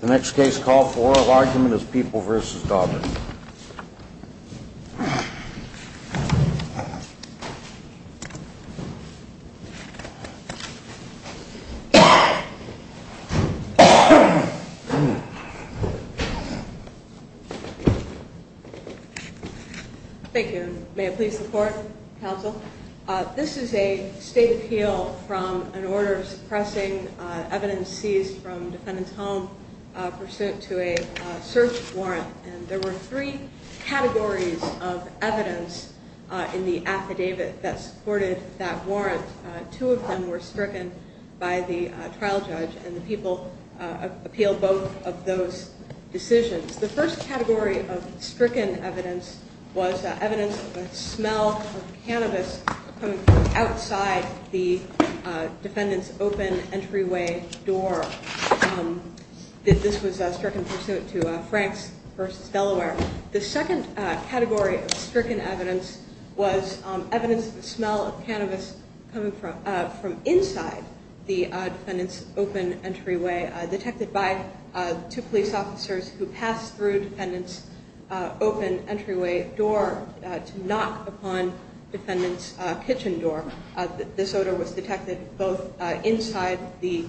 The next case call for oral argument is People v. Dauber Thank you. May it please the court, counsel. This is a state appeal from an order suppressing evidence seized from defendant's home pursuant to a search warrant. There were three categories of evidence in the affidavit that supported that warrant. Two of them were stricken by the trial judge, and the people appealed both of those decisions. The first category of stricken evidence was evidence of the smell of cannabis coming from outside the defendant's open entryway door. This was stricken pursuant to Franks v. Delaware. The second category of stricken evidence was evidence of the smell of cannabis coming from inside the defendant's open entryway detected by two police officers who passed through defendant's open entryway door to knock upon defendant's kitchen door. This odor was detected both inside the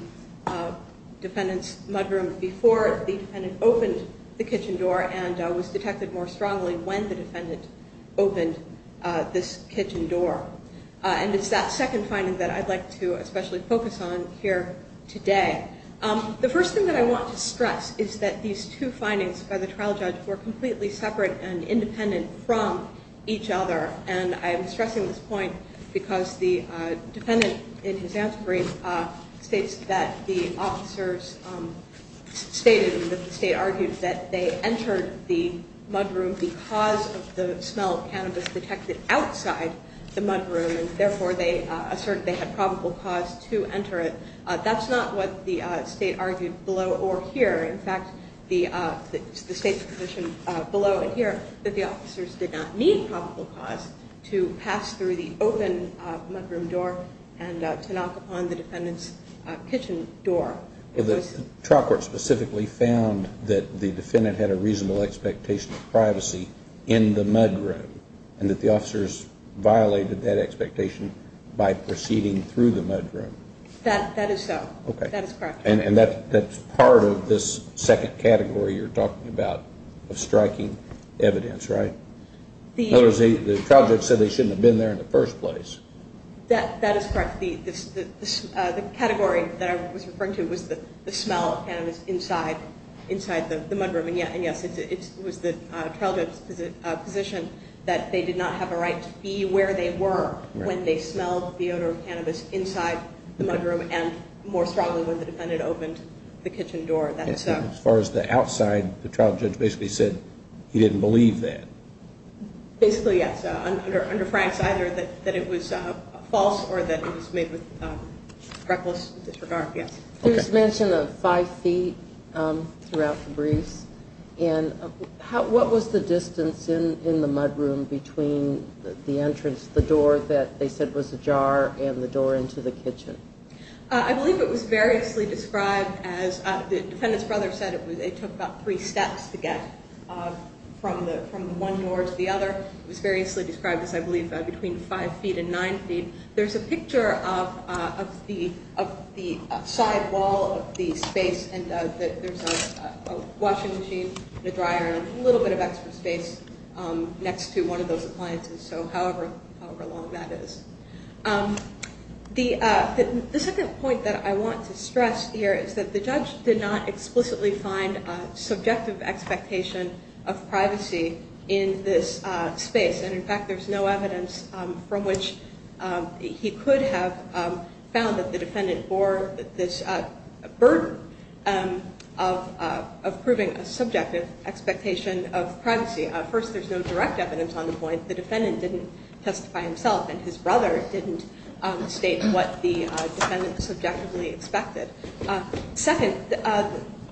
defendant's mudroom before the defendant opened the kitchen door and was detected more strongly when the defendant opened this kitchen door. And it's that second finding that I'd like to especially focus on here today. The first thing that I want to stress is that these two findings by the trial judge were completely separate and independent from each other. And I'm stressing this point because the defendant in his answer brief states that the officers stated, that the state argued that they entered the mudroom because of the smell of cannabis detected outside the mudroom, and therefore they asserted they had probable cause to enter it. That's not what the state argued below or here. In fact, the state's position below and here that the officers did not need probable cause to pass through the open mudroom door and to knock upon the defendant's kitchen door. Well, the trial court specifically found that the defendant had a reasonable expectation of privacy in the mudroom and that the officers violated that expectation by proceeding through the mudroom. That is so. That is correct. And that's part of this second category you're talking about of striking evidence, right? In other words, the trial judge said they shouldn't have been there in the first place. That is correct. The category that I was referring to was the smell of cannabis inside the mudroom. And yes, it was the trial judge's position that they did not have a right to be where they were when they smelled the odor of cannabis inside the mudroom and more strongly when the defendant opened the kitchen door. As far as the outside, the trial judge basically said he didn't believe that. Basically, yes, under Frank's either that it was false or that it was made with reckless disregard. Please mention the five feet throughout the briefs. And what was the distance in the mudroom between the entrance, the door that they said was ajar, and the door into the kitchen? I believe it was variously described as the defendant's brother said it took about three steps to get from one door to the other. It was variously described as, I believe, between five feet and nine feet. There's a picture of the side wall of the space, and there's a washing machine, a dryer, and a little bit of extra space next to one of those appliances, so however long that is. The second point that I want to stress here is that the judge did not explicitly find subjective expectation of privacy in this space. In fact, there's no evidence from which he could have found that the defendant bore this burden of proving a subjective expectation of privacy. First, there's no direct evidence on the point. The defendant didn't testify himself, and his brother didn't state what the defendant subjectively expected. Second,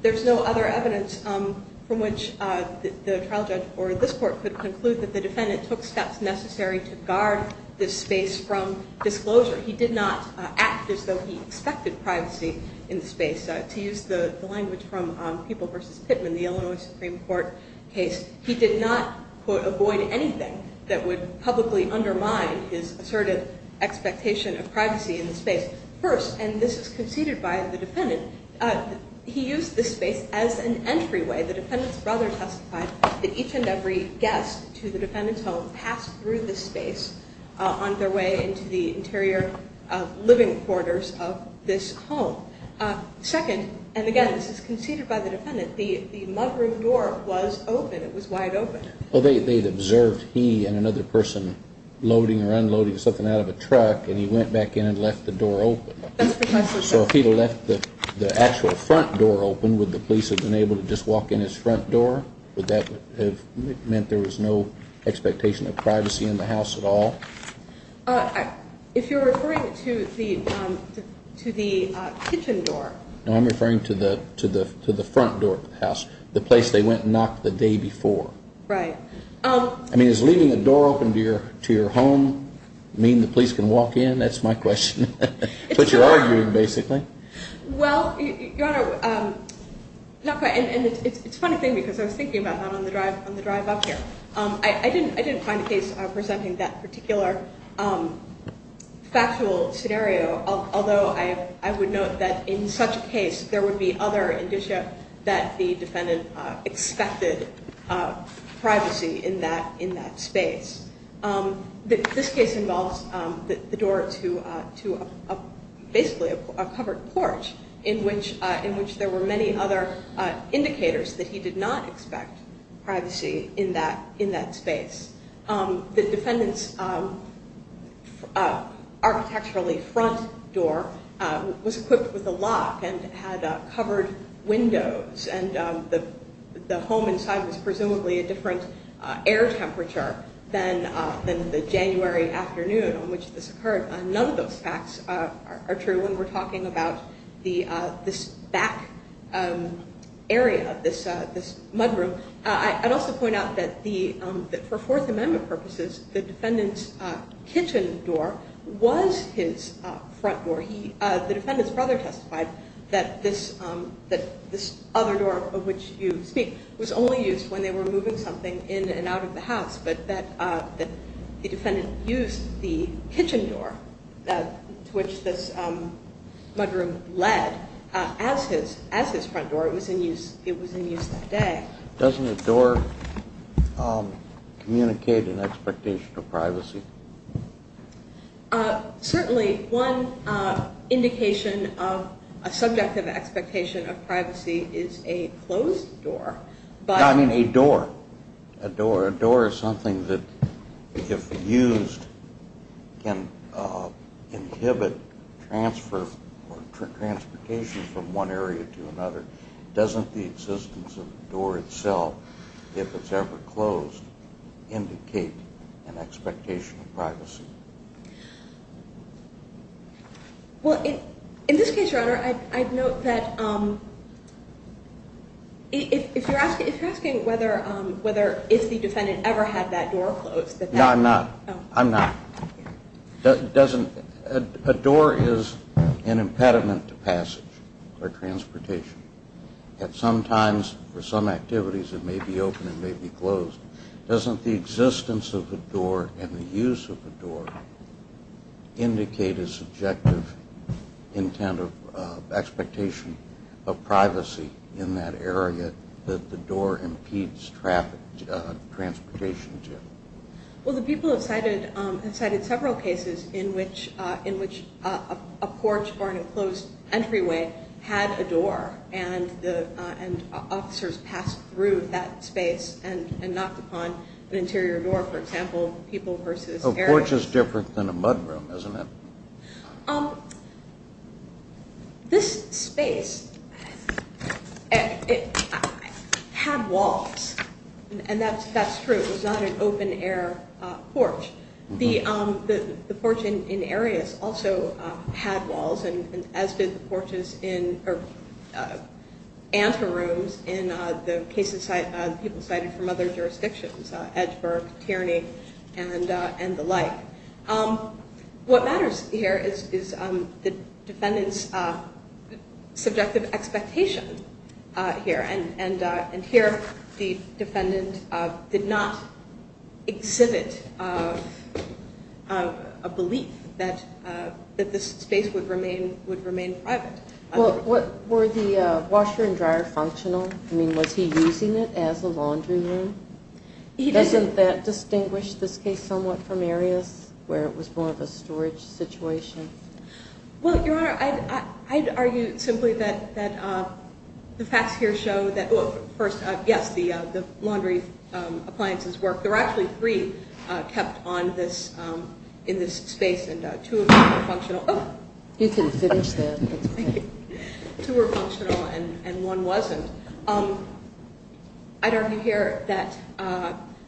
there's no other evidence from which the trial judge or this court could conclude that the defendant took steps necessary to guard this space from disclosure. He did not act as though he expected privacy in the space. To use the language from People v. Pittman, the Illinois Supreme Court case, he did not, quote, avoid anything that would publicly undermine his assertive expectation of privacy in the space. First, and this is conceded by the defendant, he used this space as an entryway. The defendant's brother testified that each and every guest to the defendant's home passed through this space on their way into the interior living quarters of this home. Second, and again, this is conceded by the defendant, the mudroof door was open. It was wide open. Well, they had observed he and another person loading or unloading something out of a truck, and he went back in and left the door open. That's precisely right. So if he had left the actual front door open, would the police have been able to just walk in his front door? Would that have meant there was no expectation of privacy in the house at all? If you're referring to the kitchen door. No, I'm referring to the front door of the house, the place they went and knocked the day before. Right. I mean, is leaving the door open to your home mean the police can walk in? That's my question. But you're arguing, basically. Well, Your Honor, and it's a funny thing because I was thinking about that on the drive up here. I didn't find a case presenting that particular factual scenario, although I would note that in such a case there would be other indicia that the defendant expected privacy in that space. This case involves the door to basically a covered porch in which there were many other indicators that he did not expect privacy in that space. The defendant's architecturally front door was equipped with a lock and had covered windows, and the home inside was presumably a different air temperature than the January afternoon on which this occurred. None of those facts are true when we're talking about this back area, this mudroom. I'd also point out that for Fourth Amendment purposes, the defendant's kitchen door was his front door. The defendant's brother testified that this other door of which you speak was only used when they were moving something in and out of the house, but that the defendant used the kitchen door to which this mudroom led as his front door. It was in use that day. Doesn't a door communicate an expectation of privacy? Certainly one indication of a subjective expectation of privacy is a closed door. I mean a door. A door is something that if used can inhibit transfer or transportation from one area to another. Doesn't the existence of the door itself, if it's ever closed, indicate an expectation of privacy? Well, in this case, Your Honor, I'd note that if you're asking whether if the defendant ever had that door closed. No, I'm not. I'm not. A door is an impediment to passage or transportation. At some times for some activities it may be open, it may be closed. Doesn't the existence of a door and the use of a door indicate a subjective intent of expectation of privacy in that area that the door impedes transportation? Well, the people have cited several cases in which a porch or an enclosed entryway had a door and officers passed through that space and knocked upon an interior door, for example, people versus air. A porch is different than a mudroom, isn't it? This space had walls, and that's true. It was not an open air porch. The porch in areas also had walls, as did the porches in anterooms in the cases people cited from other jurisdictions, Edgeburg, Tierney, and the like. What matters here is the defendant's subjective expectation here. Here the defendant did not exhibit a belief that this space would remain private. Were the washer and dryer functional? Was he using it as a laundry room? Doesn't that distinguish this case somewhat from areas where it was more of a storage situation? Well, Your Honor, I'd argue simply that the facts here show that, first, yes, the laundry appliances work. There were actually three kept in this space, and two of them were functional. You can finish there. Thank you. Two were functional and one wasn't. I'd argue here that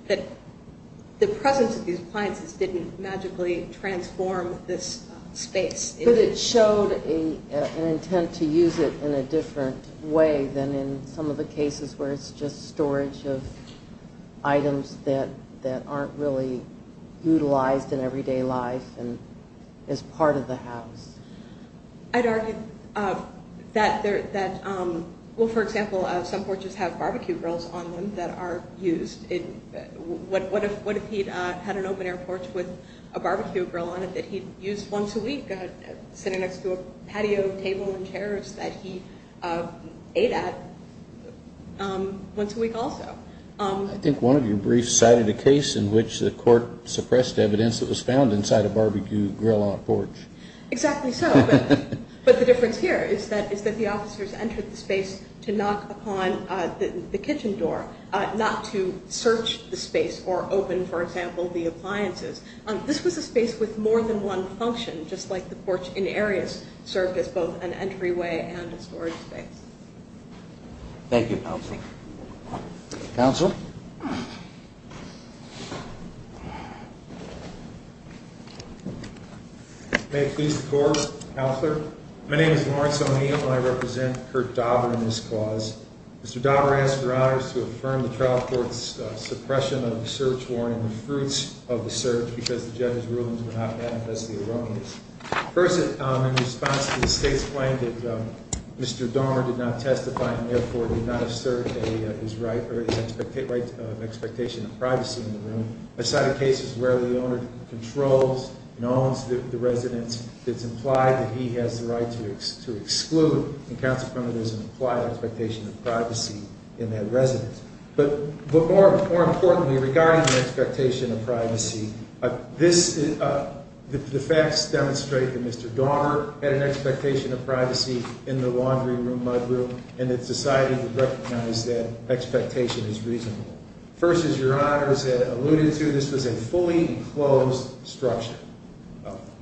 the presence of these appliances didn't magically transform this space. But it showed an intent to use it in a different way than in some of the cases where it's just storage of items that aren't really utilized in everyday life and is part of the house. I'd argue that, well, for example, some porches have barbecue grills on them that are used. What if he had an open-air porch with a barbecue grill on it that he'd use once a week sitting next to a patio table and chairs that he ate at once a week also? I think one of your briefs cited a case in which the court suppressed evidence that was found inside a barbecue grill on a porch. Exactly so. But the difference here is that the officers entered the space to knock upon the kitchen door, not to search the space or open, for example, the appliances. This was a space with more than one function, just like the porch in areas served as both an entryway and a storage space. Thank you, counsel. Counsel? May it please the court. Counselor? My name is Lawrence O'Neill. I represent Curt Dauber in this clause. Mr. Dauber asked for honors to affirm the trial court's suppression of the search warrant and the fruits of the search because the judge's rulings were not manifestly erroneous. First, in response to the state's claim that Mr. Dauber did not testify and therefore did not assert his right of expectation of privacy in the room, I cited cases where the owner controls and owns the residence. It's implied that he has the right to exclude, and counsel commented there's an implied expectation of privacy in that residence. But more importantly, regarding the expectation of privacy, the facts demonstrate that Mr. Dauber had an expectation of privacy in the laundry room, mudroom, and that society would recognize that expectation as reasonable. First, as your honors had alluded to, this was a fully enclosed structure.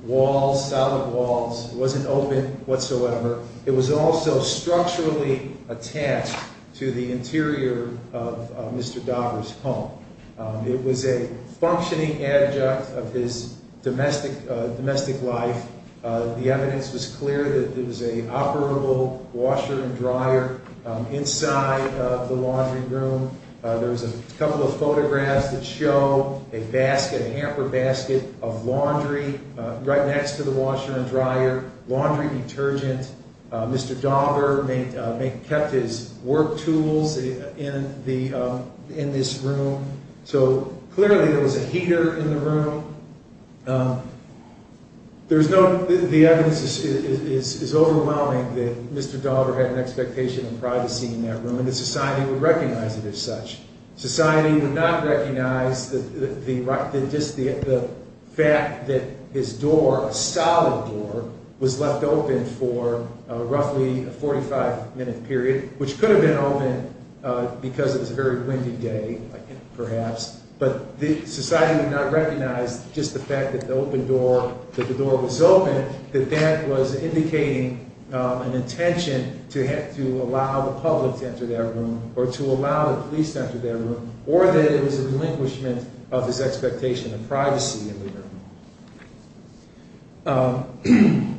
Walls, solid walls. It wasn't open whatsoever. It was also structurally attached to the interior of Mr. Dauber's home. It was a functioning adjunct of his domestic life. The evidence was clear that it was an operable washer and dryer inside the laundry room. There's a couple of photographs that show a basket, a hamper basket of laundry right next to the washer and dryer. Laundry detergent. Mr. Dauber kept his work tools in this room. So clearly there was a heater in the room. The evidence is overwhelming that Mr. Dauber had an expectation of privacy in that room, and that society would recognize it as such. Society would not recognize the fact that his door, a solid door, was left open for roughly a 45-minute period, which could have been open because it was a very windy day, perhaps. But society would not recognize just the fact that the door was open, that that was indicating an intention to allow the public to enter that room, or to allow the police to enter that room, or that it was a delinquishment of his expectation of privacy in the room.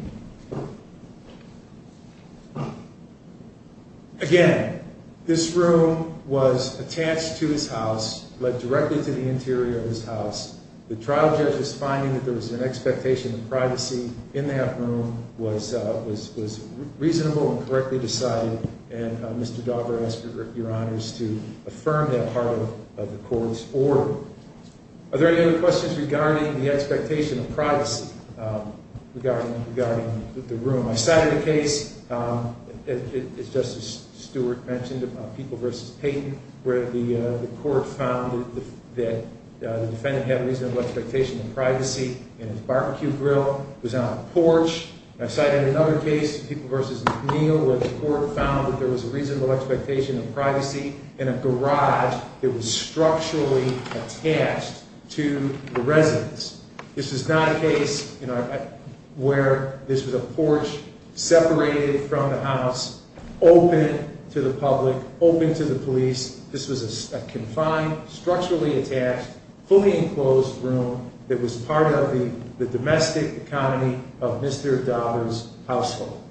Again, this room was attached to his house, led directly to the interior of his house. The trial judge's finding that there was an expectation of privacy in that room was reasonable and correctly decided, and Mr. Dauber asked your honors to affirm that part of the court's order. Are there any other questions regarding the expectation of privacy regarding the room? I cited a case, as Justice Stewart mentioned, People v. Payton, where the court found that the defendant had a reasonable expectation of privacy in his barbecue grill. I cited another case, People v. McNeil, where the court found that there was a reasonable expectation of privacy in a garage that was structurally attached to the residence. This was not a case where this was a porch separated from the house, open to the public, open to the police. This was a confined, structurally attached, fully enclosed room that was part of the domestic economy of Mr. Dauber's household.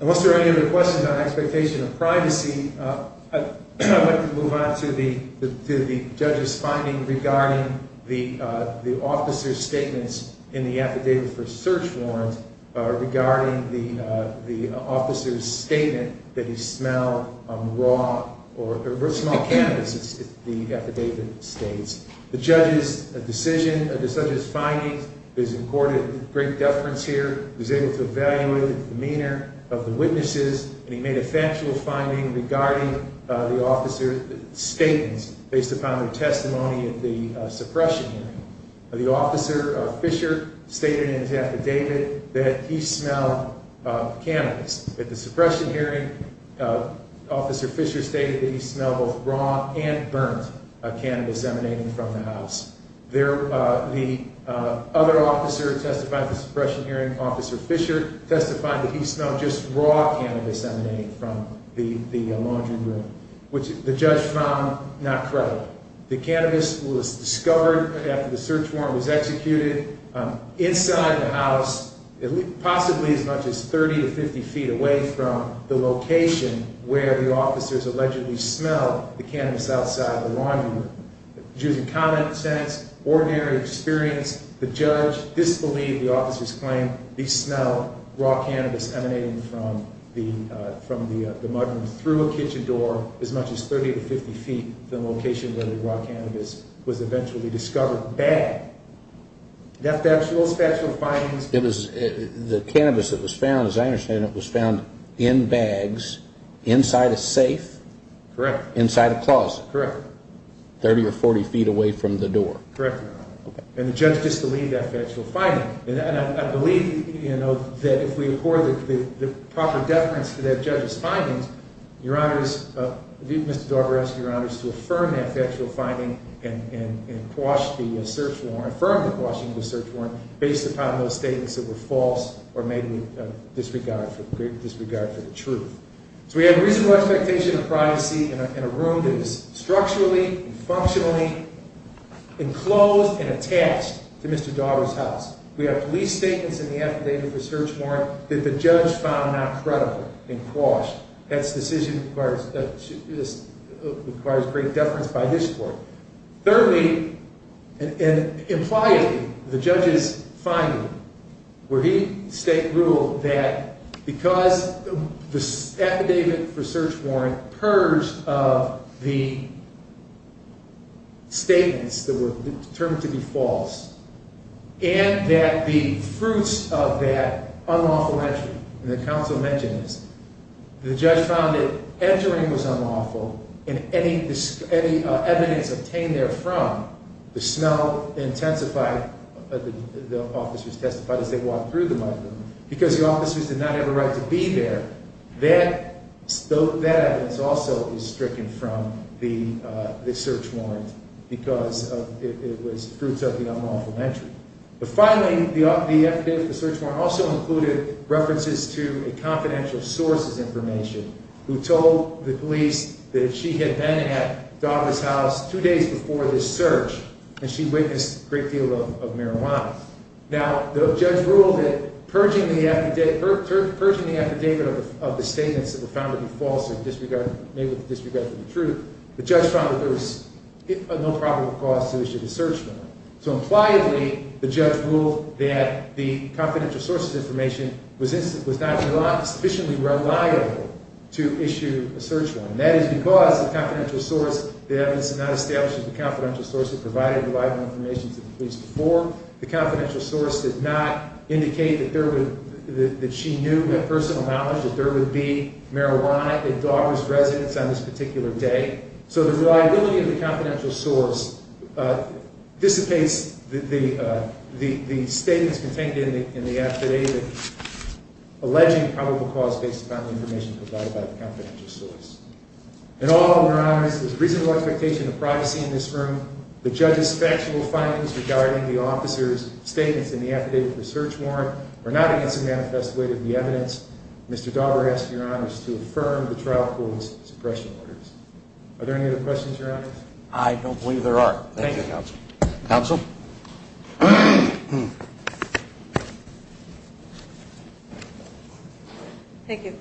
And once there are any other questions on expectation of privacy, I'd like to move on to the judge's finding regarding the officer's statements in the affidavit for search warrants, regarding the officer's statement that he smelled raw, or a small cannabis, the affidavit states. The judge's finding is recorded in great deference here. He was able to evaluate the demeanor of the witnesses, and he made a factual finding regarding the officer's statements based upon their testimony at the suppression hearing. The officer, Fisher, stated in his affidavit that he smelled cannabis. At the suppression hearing, Officer Fisher stated that he smelled both raw and burnt cannabis emanating from the house. The other officer testifying at the suppression hearing, Officer Fisher, testified that he smelled just raw cannabis emanating from the laundry room, which the judge found not credible. The cannabis was discovered after the search warrant was executed, inside the house, possibly as much as 30 to 50 feet away from the location where the officers allegedly smelled the cannabis outside the laundry room. Using common sense, ordinary experience, the judge disbelieved the officer's claim. He smelled raw cannabis emanating from the mudroom through a kitchen door as much as 30 to 50 feet from the location where the raw cannabis was eventually discovered. The cannabis that was found, as I understand it, was found in bags inside a safe? Correct. Inside a closet? Correct. 30 or 40 feet away from the door? Correct. And the judge disbelieved that factual finding. And I believe, you know, that if we accord the proper deference to that judge's findings, your honors, Mr. Daugherty asked your honors to affirm that factual finding and quash the search warrant, affirm the quashing of the search warrant, based upon those statements that were false or made in disregard for the truth. So we have reasonable expectation of privacy in a room that is structurally and functionally enclosed and attached to Mr. Daugherty's house. We have police statements in the affidavit of the search warrant that the judge found not credible and quashed. That decision requires great deference by his court. Thirdly, and impliedly, the judge's finding, where he ruled that because the affidavit for search warrant purged of the statements that were determined to be false, and that the fruits of that unlawful entry, and the counsel mentions, the judge found that entering was unlawful, and any evidence of that entering was unlawful. Any evidence obtained therefrom, the smell intensified, the officers testified as they walked through the microphone, because the officers did not have a right to be there. That evidence also is stricken from the search warrant because it was fruits of the unlawful entry. But finally, the affidavit of the search warrant also included references to a confidential source's information, who told the police that she had been at Daugherty's house two days before this search, and she witnessed a great deal of marijuana. Now, the judge ruled that purging the affidavit of the statements that were found to be false or made with disregard for the truth, the judge found that there was no probable cause to issue the search warrant. So impliedly, the judge ruled that the confidential source's information was not sufficiently reliable to issue a search warrant. And that is because the confidential source, the evidence did not establish that the confidential source had provided reliable information to the police before. The confidential source did not indicate that she knew with personal knowledge that there would be marijuana at Daugherty's residence on this particular day. So the reliability of the confidential source dissipates the statements contained in the affidavit alleging probable cause based upon the information provided by the confidential source. In all, Your Honors, with reasonable expectation of privacy in this room, the judge's factual findings regarding the officer's statements in the affidavit of the search warrant are not against the manifest weight of the evidence. Mr. Daugherty asks Your Honors to affirm the trial court's suppression orders. Are there any other questions, Your Honors? I don't believe there are. Thank you, Counsel. Counsel? Thank you.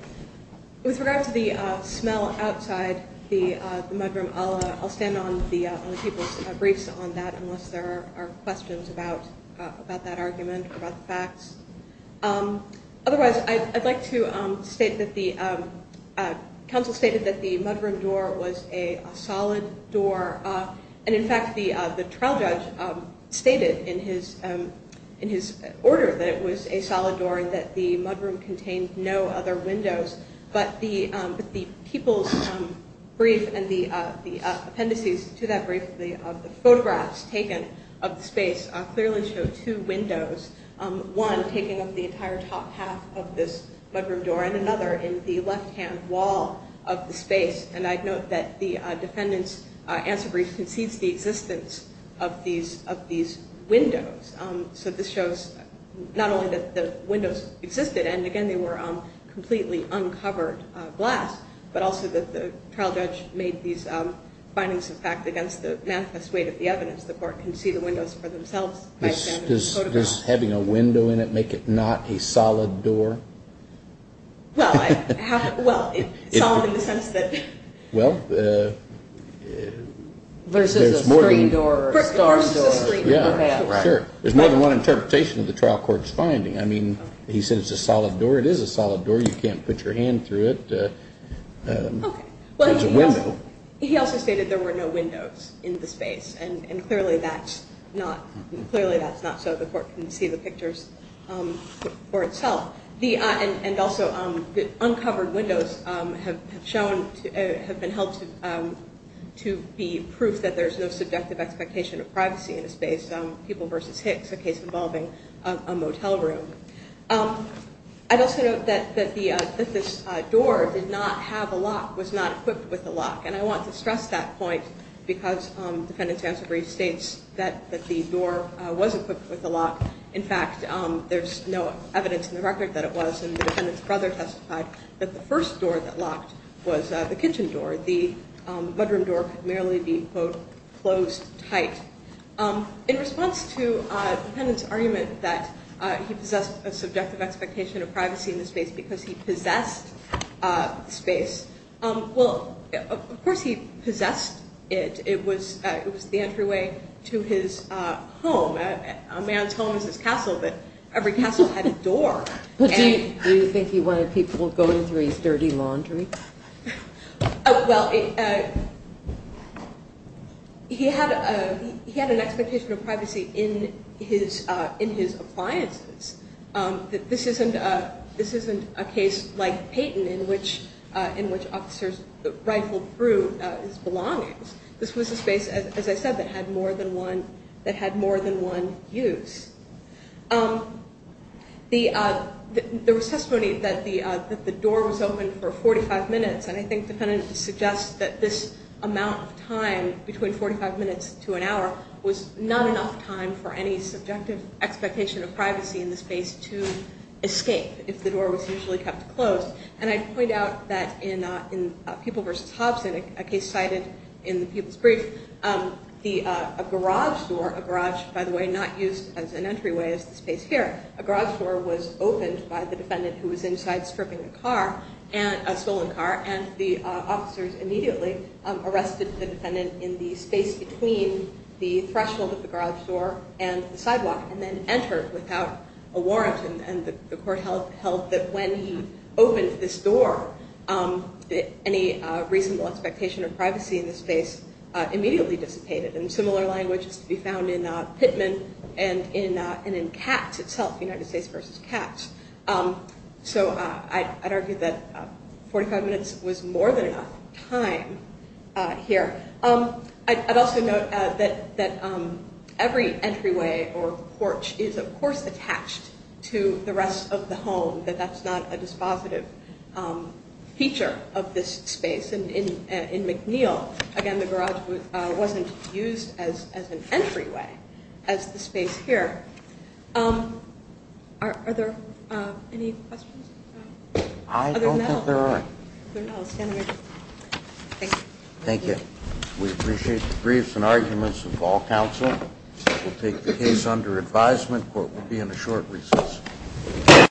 With regard to the smell outside the mudroom, I'll stand on the people's briefs on that unless there are questions about that argument or about the facts. Otherwise, I'd like to state that the counsel stated that the mudroom door was a solid door. And in fact, the trial judge stated in his order that it was a solid door and that the mudroom contained no other windows. But the people's brief and the appendices to that brief of the photographs taken of the space clearly show two windows. One taking up the entire top half of this mudroom door and another in the left-hand wall of the space. And I'd note that the defendant's answer brief concedes the existence of these windows. So this shows not only that the windows existed and, again, they were completely uncovered glass, but also that the trial judge made these findings of fact against the manifest weight of the evidence. The court can see the windows for themselves by examining the photographs. Does having a window in it make it not a solid door? Well, it's solid in the sense that… There's more than one interpretation of the trial court's finding. I mean, he says it's a solid door. It is a solid door. You can't put your hand through it. It's a window. He also stated there were no windows in the space, and clearly that's not so. The court can see the pictures for itself. And also the uncovered windows have been held to be proof that there's no subjective expectation of privacy in the space. People v. Hicks, a case involving a motel room. I'd also note that this door did not have a lock, was not equipped with a lock. And I want to stress that point because the defendant's answer brief states that the door was equipped with a lock. In fact, there's no evidence in the record that it was. And the defendant's brother testified that the first door that locked was the kitchen door. The bedroom door could merely be, quote, closed tight. In response to the defendant's argument that he possessed a subjective expectation of privacy in the space because he possessed the space, well, of course he possessed it. It was the entryway to his home. A man's home is his castle, but every castle had a door. Do you think he wanted people going through his dirty laundry? Well, he had an expectation of privacy in his appliances. This isn't a case like Payton in which officers rifled through his belongings. This was a space, as I said, that had more than one use. There was testimony that the door was open for 45 minutes, and I think the defendant suggests that this amount of time between 45 minutes to an hour was not enough time for any subjective expectation of privacy in the space to escape if the door was usually kept closed. And I point out that in Pupil v. Hobson, a case cited in the Pupil's brief, a garage door, a garage, by the way, not used as an entryway as the space here, a garage door was opened by the defendant who was inside stripping a car, a stolen car, and the officers immediately arrested the defendant in the space between the threshold of the garage door and the sidewalk and then entered without a warrant. And the court held that when he opened this door, any reasonable expectation of privacy in the space immediately dissipated. And similar language is to be found in Pittman and in Katz itself, United States v. Katz. So I'd argue that 45 minutes was more than enough time here. I'd also note that every entryway or porch is, of course, attached to the rest of the home, that that's not a dispositive feature of this space. And in McNeil, again, the garage wasn't used as an entryway as the space here. Are there any questions? I don't think there are. Thank you. We appreciate the briefs and arguments of all counsel. We'll take the case under advisement. Court will be in a short recess.